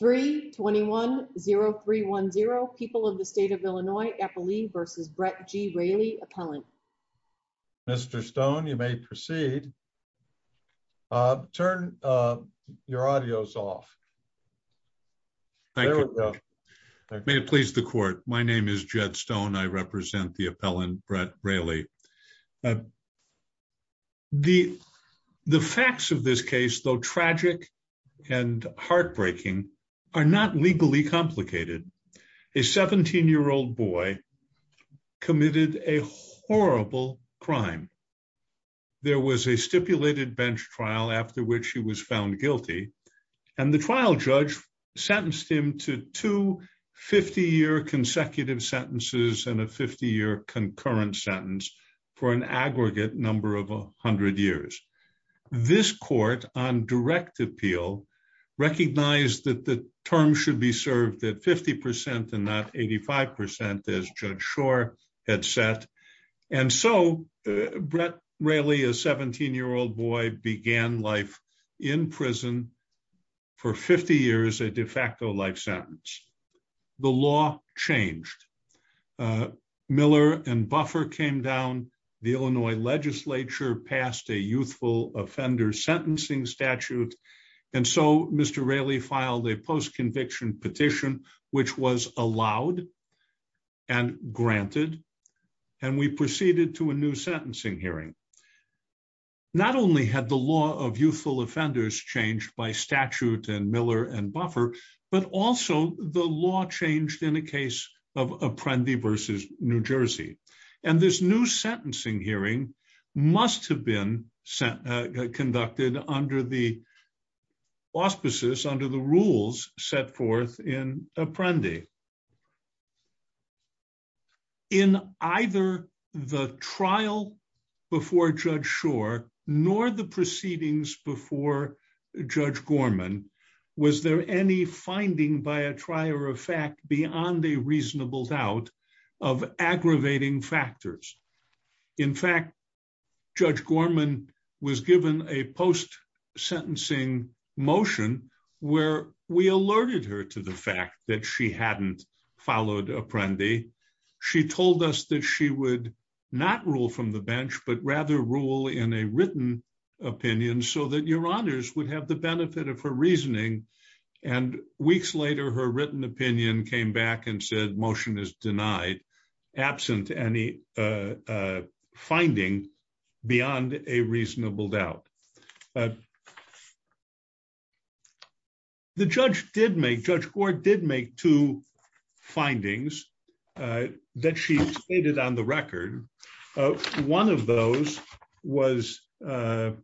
32010310 people of the state of Illinois Eppley versus Brett G. Railey, appellant. Mr. Stone, you may proceed. Turn your audios off. May it please the court. My name is Jed Stone. I represent the appellant Brett Railey. The facts of this case, though tragic and heartbreaking, are not legally complicated. A 17 year old boy committed a horrible crime. There was a stipulated bench trial after which he was found guilty. And the trial judge sentenced him to 250 year consecutive sentences and a 50 concurrent sentence for an aggregate number of 100 years. This court on direct appeal recognized that the term should be served at 50% and not 85% as Judge Shore had set. And so Brett Railey, a 17 year old boy began life in prison for 50 years a de facto life sentence. The law changed. Miller and Buffer came down, the Illinois legislature passed a youthful offender sentencing statute. And so Mr. Railey filed a post conviction petition, which was allowed and granted. And we proceeded to a new sentencing hearing. Not only had the law of youthful offenders changed by the law changed in a case of Apprendi versus New Jersey. And this new sentencing hearing must have been conducted under the auspices under the rules set forth in Apprendi. In either the trial before Judge Shore, nor the proceedings before Judge Gorman, was there any finding by a trier of fact beyond the reasonable doubt of aggravating factors. In fact, Judge Gorman was given a post sentencing motion, where we alerted her to the fact that she hadn't followed Apprendi. She told us that she would not rule from the bench, but rather rule in a written opinion so that your honors would have the benefit of her reasoning. And weeks later, her written opinion came back and said motion is denied, absent any finding beyond a reasonable doubt. The judge did make Judge Gore did make two findings that she stated on the record. One of those was, I'm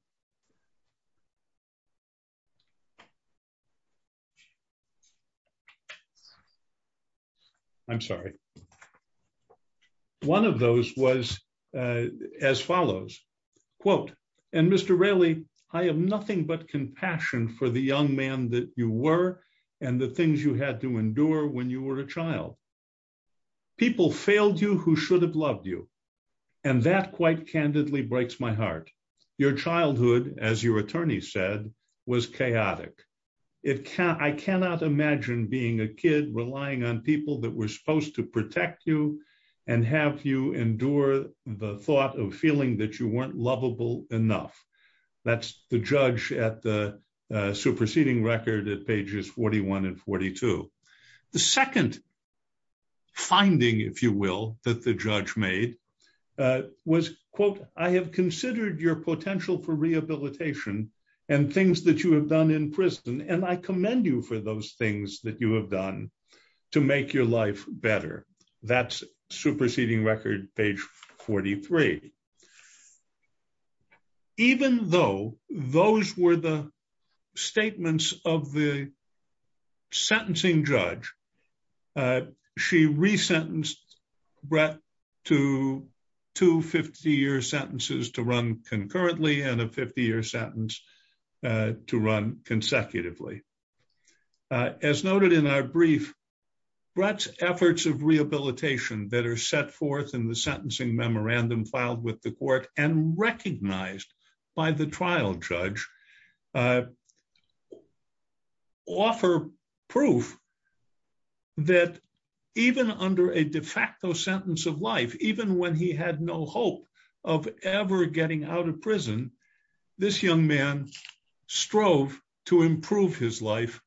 sorry. One of those was as follows, quote, and Mr. Railey, I have nothing but compassion for the young man that you were, and the things you had to endure when you were a child. People failed you who should have loved you. And that quite candidly breaks my heart. Your childhood, as your attorney said, was chaotic. I cannot imagine being a kid relying on people that were supposed to protect you and have you endure the thought of feeling that you weren't lovable enough. That's the judge at the superseding record at pages 41 and 42. The second finding, if you will, that the judge made was, quote, I have considered your potential for rehabilitation and things that you have done in prison. And I commend you for those things that you have done to make your life better. That's superseding record page 43. Even though those were the statements of the sentencing judge, she re-sentenced Brett to two 50-year sentences to run concurrently and a 50-year sentence to run consecutively. As noted in our brief, Brett's efforts of rehabilitation that are set forth in the court and recognized by the trial judge offer proof that even under a de facto sentence of life, even when he had no hope of ever getting out of prison, this young man strove to improve his statute,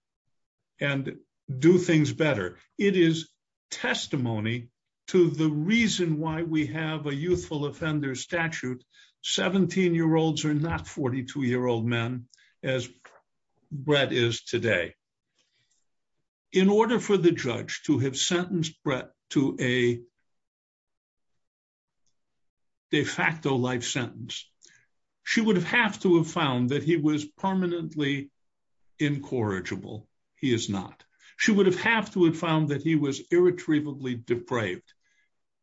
17-year-olds are not 42-year-old men as Brett is today. In order for the judge to have sentenced Brett to a de facto life sentence, she would have to have found that he was permanently incorrigible. He is not. She would have to have found that he was irretrievably depraved.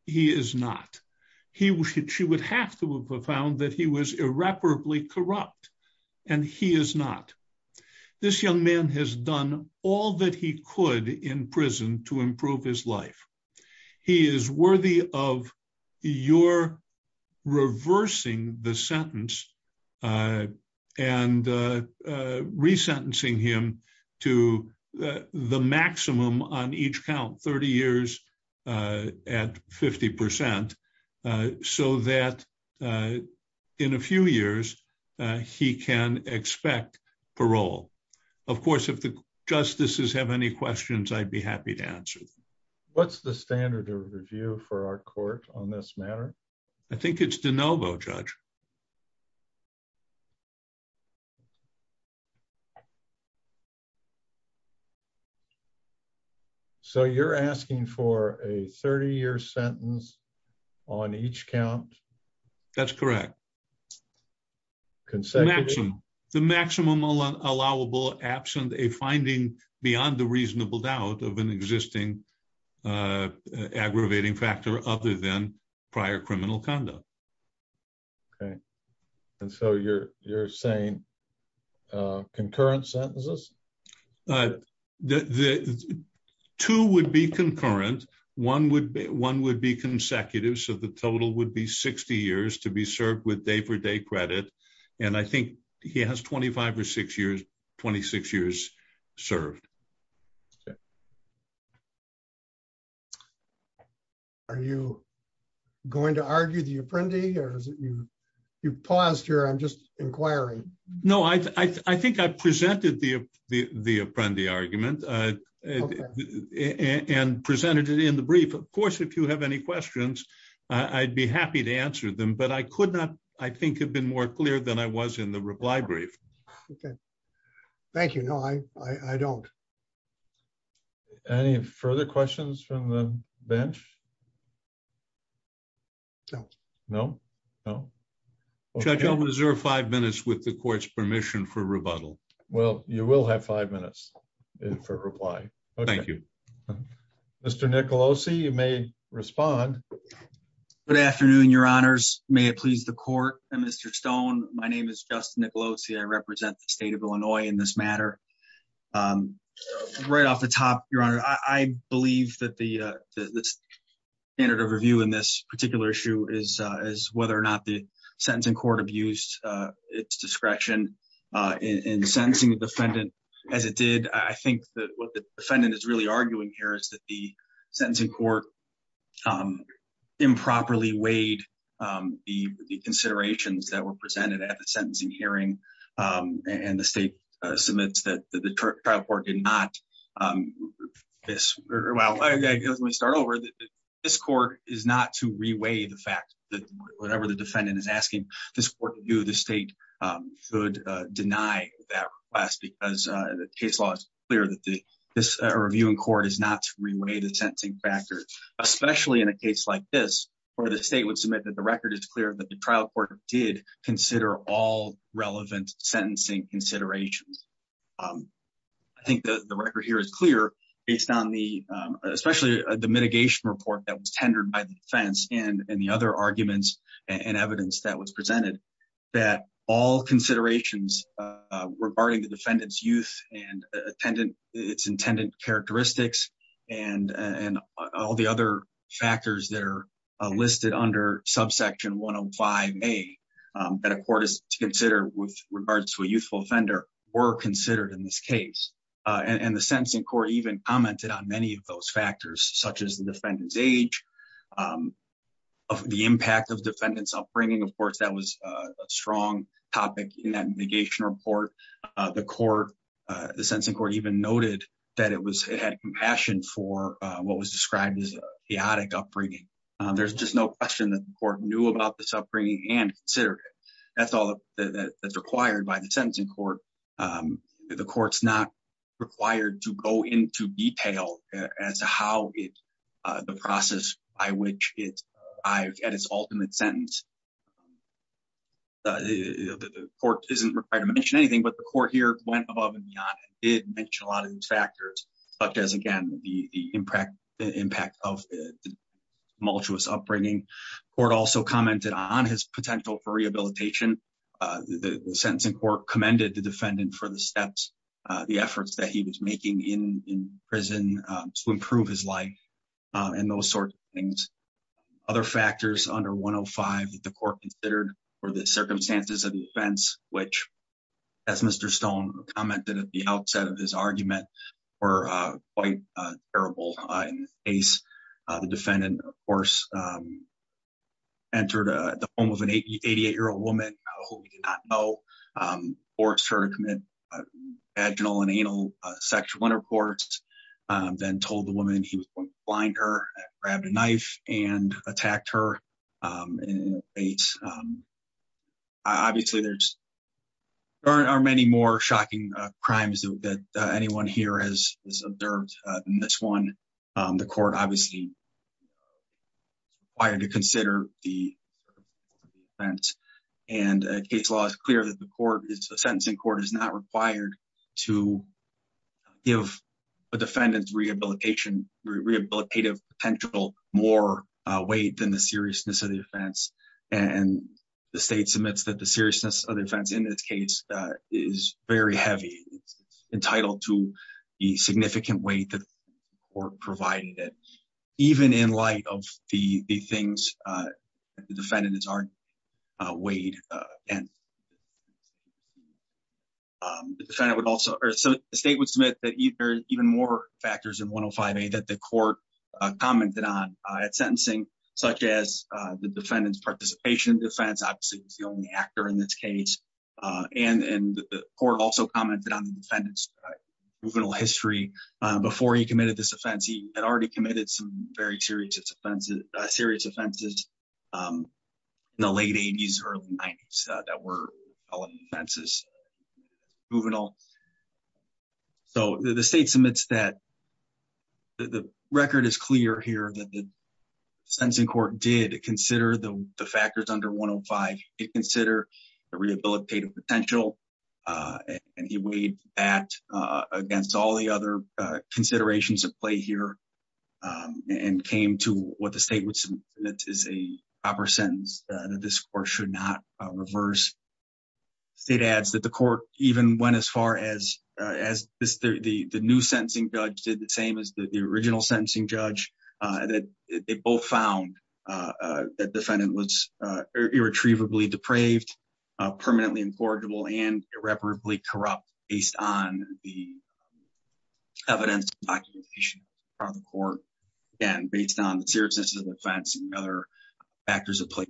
He is not. She would have to have found that he was irreparably corrupt, and he is not. This young man has done all that he could in prison to improve his life. He is worthy of your reversing the sentence and re-sentencing him to the maximum on each count, 30 years at 50%, so that in a few years, he can expect parole. Of course, if the justices have any questions, I'd be happy to answer them. What's the standard of review for our court on this matter? 30 years. So, you're asking for a 30-year sentence on each count? That's correct. The maximum allowable absent a finding beyond the reasonable doubt of an existing aggravating factor other than prior criminal conduct. And so, you're saying concurrent sentences? Two would be concurrent. One would be consecutive. So, the total would be 60 years to be served with day-for-day credit, and I think he has 25 or 26 years served. Okay. Are you going to argue the Apprendi? You paused here. I'm just inquiring. No, I think I presented the Apprendi argument and presented it in the brief. Of course, if you have any questions, I'd be happy to answer them, but I could not, I think, have been more clear than I was in the reply brief. Okay. Thank you. No, I don't. Any further questions from the bench? No. No? No? Judge, I'll reserve five minutes with the court's permission for rebuttal. Well, you will have five minutes for reply. Okay. Thank you. Mr. Nicolosi, you may respond. Good afternoon, your honors. May it please the court. Mr. Stone, my name is Justin Nicolosi. I represent the state of Illinois in this matter. Right off the top, your honor, I believe that the standard of review in this particular issue is whether or not the sentencing court abused its discretion in sentencing the defendant as it did. I think that what the defendant is really arguing here is that the sentencing court improperly weighed the considerations that were presented at the sentencing hearing, and the state submits that the trial court did not. Well, let me start over. This court is not to reweigh the fact that whatever the defendant is asking this court to do, the state should deny that request because the case law is clear that this review in court is not to reweigh the sentencing factors, especially in a case like this where the state would submit that the record is clear that the trial court did consider all relevant sentencing considerations. I think that the record here is clear based on especially the mitigation report that was tendered by the defense and the other arguments and evidence that was presented that all considerations regarding the defendant's youth and its intended characteristics and all the other factors that are listed under subsection 105A that a court is to consider with regards to a youthful offender were considered in this case. The sentencing court even commented on many of those factors such as the defendant's age, the impact of defendant's upbringing. Of course, that was a strong topic in that mitigation report. The court, the sentencing court even noted that it had compassion for what was described as chaotic upbringing. There's just no question that the court knew about this upbringing and considered it. That's all that's required by the sentencing court. The court's not required to go into detail as to how the process by which it arrived at its ultimate sentence. The court isn't required to mention anything, but the court here went above and beyond and did mention a lot of these factors, such as again, the impact of the tumultuous upbringing. The court also commented on his potential for rehabilitation. The sentencing court commended the defendant for the steps, the efforts that he was making in prison to improve his life and those sorts of things. Other factors under 105 that the court considered were the circumstances of defense, which, as Mr. Stone commented at the outset of his argument, were quite terrible in this case. The defendant, of course, entered the home of an 88-year-old woman who he did not know, forced her to commit vaginal and anal sexual intercourse, then told the woman he was going to and attacked her. Obviously, there are many more shocking crimes that anyone here has observed than this one. The court obviously required to consider the defense. Case law is clear that the court, the sentencing court, is not required to give a defendant's rehabilitation, rehabilitative potential, more weight than the seriousness of the offense. The state submits that the seriousness of the offense in this case is very heavy. It's entitled to the significant weight that the court provided it, even in light of the things the defendants already weighed. The state would submit that there are even more factors in 105A that the court commented on at sentencing, such as the defendant's participation in defense. Obviously, he's the only actor in this case. The court also commented on the defendant's juvenile history. Before he committed this offense, he had already committed some very serious offenses in the late 80s, early 90s. The state submits that the record is clear here that the sentencing court did consider the factors under 105. It considered the rehabilitative potential and he weighed that against all the other considerations at play here and came to what the state would submit is a proper sentence that this court should not reverse. The state adds that the court even went as far as the new sentencing judge did the same as the original sentencing judge. They both found that the defendant was irretrievably depraved, permanently incorrigible, and irreparably corrupt based on the evidence documentation from the court, and based on the seriousness of offense and other factors of play.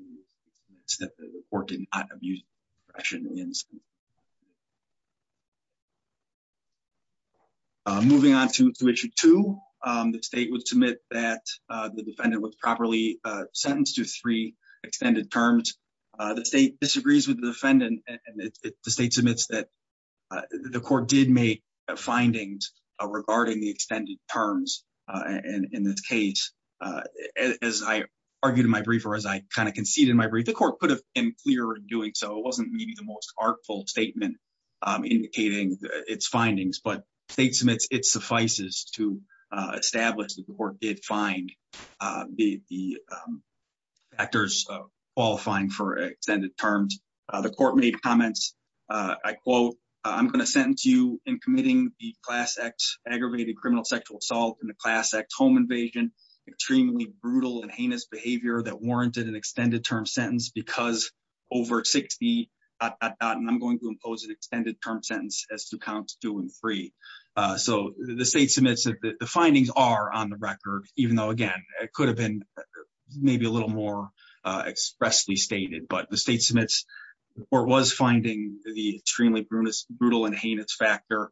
Moving on to issue two, the state would submit that the defendant was properly sentenced to three sentences. The state submits that the court did make findings regarding the extended terms. In this case, as I argued in my brief or as I kind of conceded in my brief, the court could have been clearer in doing so. It wasn't maybe the most artful statement indicating its findings, but the state submits it suffices to establish that the court did find the factors qualifying for extended terms. The court made comments, I quote, I'm going to sentence you in committing the class act aggravated criminal sexual assault in the class act home invasion, extremely brutal and heinous behavior that warranted an extended term sentence because over 60, and I'm going to impose an extended term sentence as to count two and three. So the state submits that the findings are on the record, even though again, it could have been maybe a little more expressly stated, but the state submits the court was finding the extremely brutal and heinous factor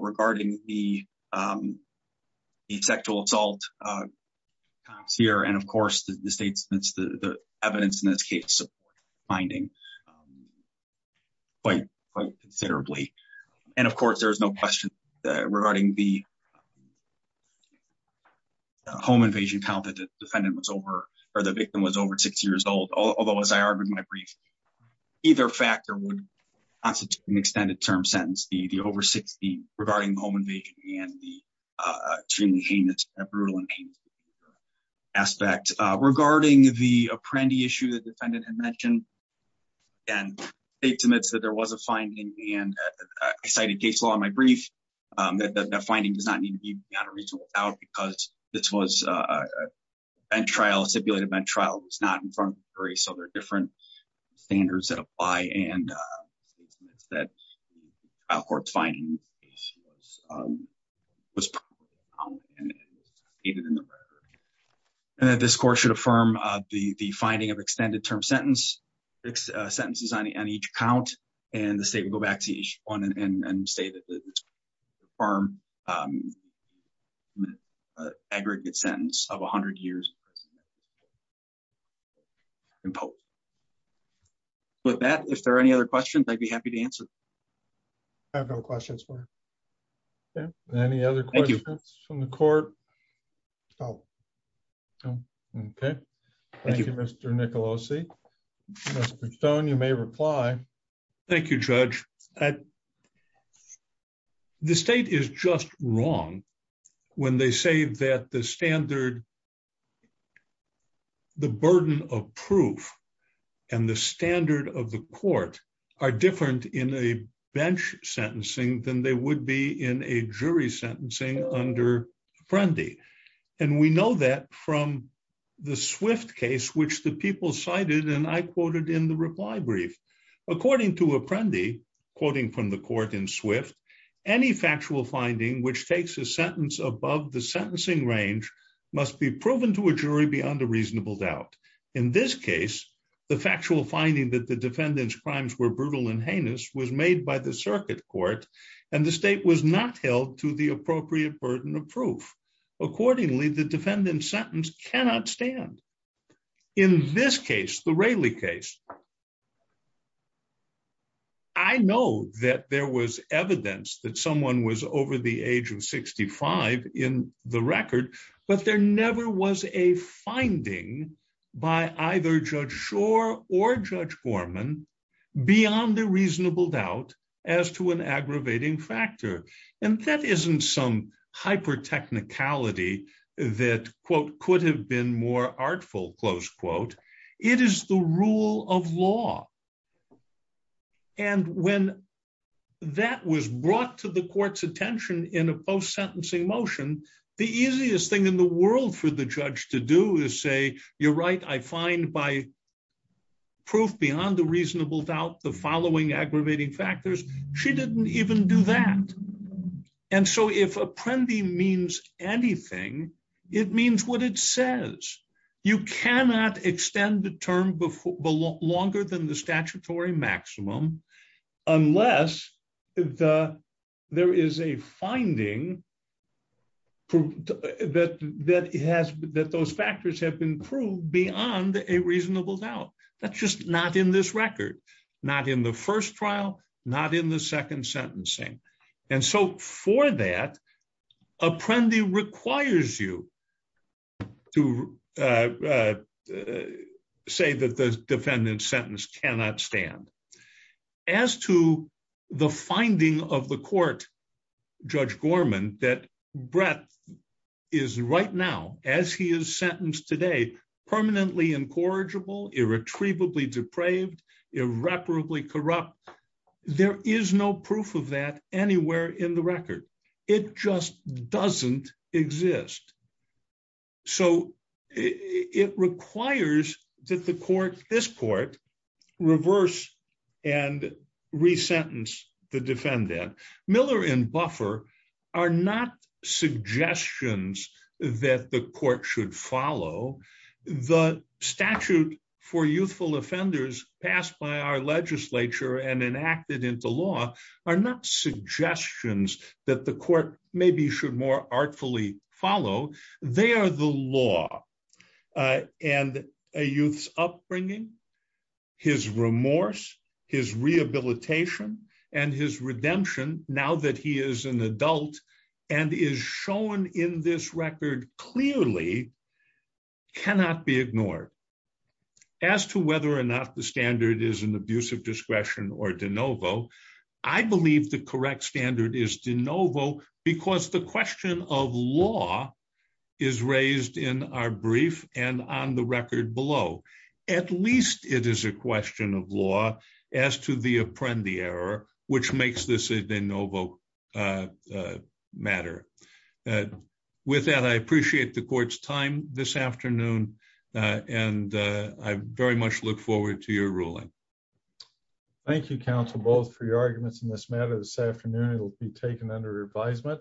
regarding the sexual assault here. And of course, the state submits the evidence in this case finding quite considerably. And of course, there's no question regarding the home invasion count that the defendant was over or the victim was over six years old. Although as I argued in my brief, either factor would constitute an extended term sentence, the over 60 regarding home invasion and the extremely heinous, brutal and heinous aspect. Regarding the Apprendi issue, the defendant had mentioned and state submits that there was a finding and I cited case law in my brief that the finding does not need to be on a reasonable doubt because this was a bent trial, a stipulated event trial. It was not in front of the jury. So there are different standards that apply and the court's finding was proven and it was stated in the record. And that this court should affirm the finding of extended term sentence, six sentences on each count and the state would go back to each one and say that the farm aggregate sentence of 100 years. With that, if there are any other questions, I'd be happy to answer. I have no questions for you. Any other questions from the court? No. Okay. Thank you, Mr. Nicolosi. Mr. Stone, you may reply. Thank you, Judge. The state is just wrong when they say that the standard, the burden of proof and the standard of the court are different in a bench sentencing than they and we know that from the Swift case which the people cited and I quoted in the reply brief. According to Apprendi, quoting from the court in Swift, any factual finding which takes a sentence above the sentencing range must be proven to a jury beyond a reasonable doubt. In this case, the factual finding that the defendant's crimes were brutal and heinous was made by the circuit court and the state was not held to the appropriate burden of proof. Accordingly, the defendant's sentence cannot stand. In this case, the Raley case, I know that there was evidence that someone was over the age of 65 in the record but there never was a finding by either Judge Schor or Judge Gorman beyond a reasonable doubt as to an aggravating factor and that isn't some hyper-technicality that, quote, could have been more artful, close quote. It is the rule of law and when that was brought to the court's judge to do is say, you're right, I find by proof beyond a reasonable doubt the following aggravating factors, she didn't even do that and so if Apprendi means anything, it means what it says. You cannot extend the term longer than the statutory maximum unless there is a finding that those factors have been proved beyond a reasonable doubt. That's just not in this record, not in the first trial, not in the second sentencing and so for that, Apprendi requires you to say that the defendant's sentence cannot stand. As to the finding of the court, Judge Gorman, that Brett is right now, as he is sentenced today, permanently incorrigible, irretrievably depraved, irreparably corrupt, there is no proof of that anywhere in the record. It just doesn't exist. So it requires that the court, this court, reverse and re-sentence the defendant. Miller and Buffer are not suggestions that the court should follow. The statute for youthful offenders passed by our legislature and enacted into law are not suggestions that the court maybe should more artfully follow. They are the law and a youth's upbringing, his remorse, his rehabilitation and his redemption, now that he is an adult and is shown in this record clearly, cannot be ignored. As to whether or not the standard is an abuse of discretion or de novo, I believe the correct standard is de novo because the question of law is raised in our brief and on the record below. At least it is a question of law as to the Apprendi error, which makes this a de novo matter. With that, I appreciate the court's time this afternoon and I very much look forward to your ruling. Thank you, counsel, both for your arguments in this matter this afternoon. It will be taken under advisement.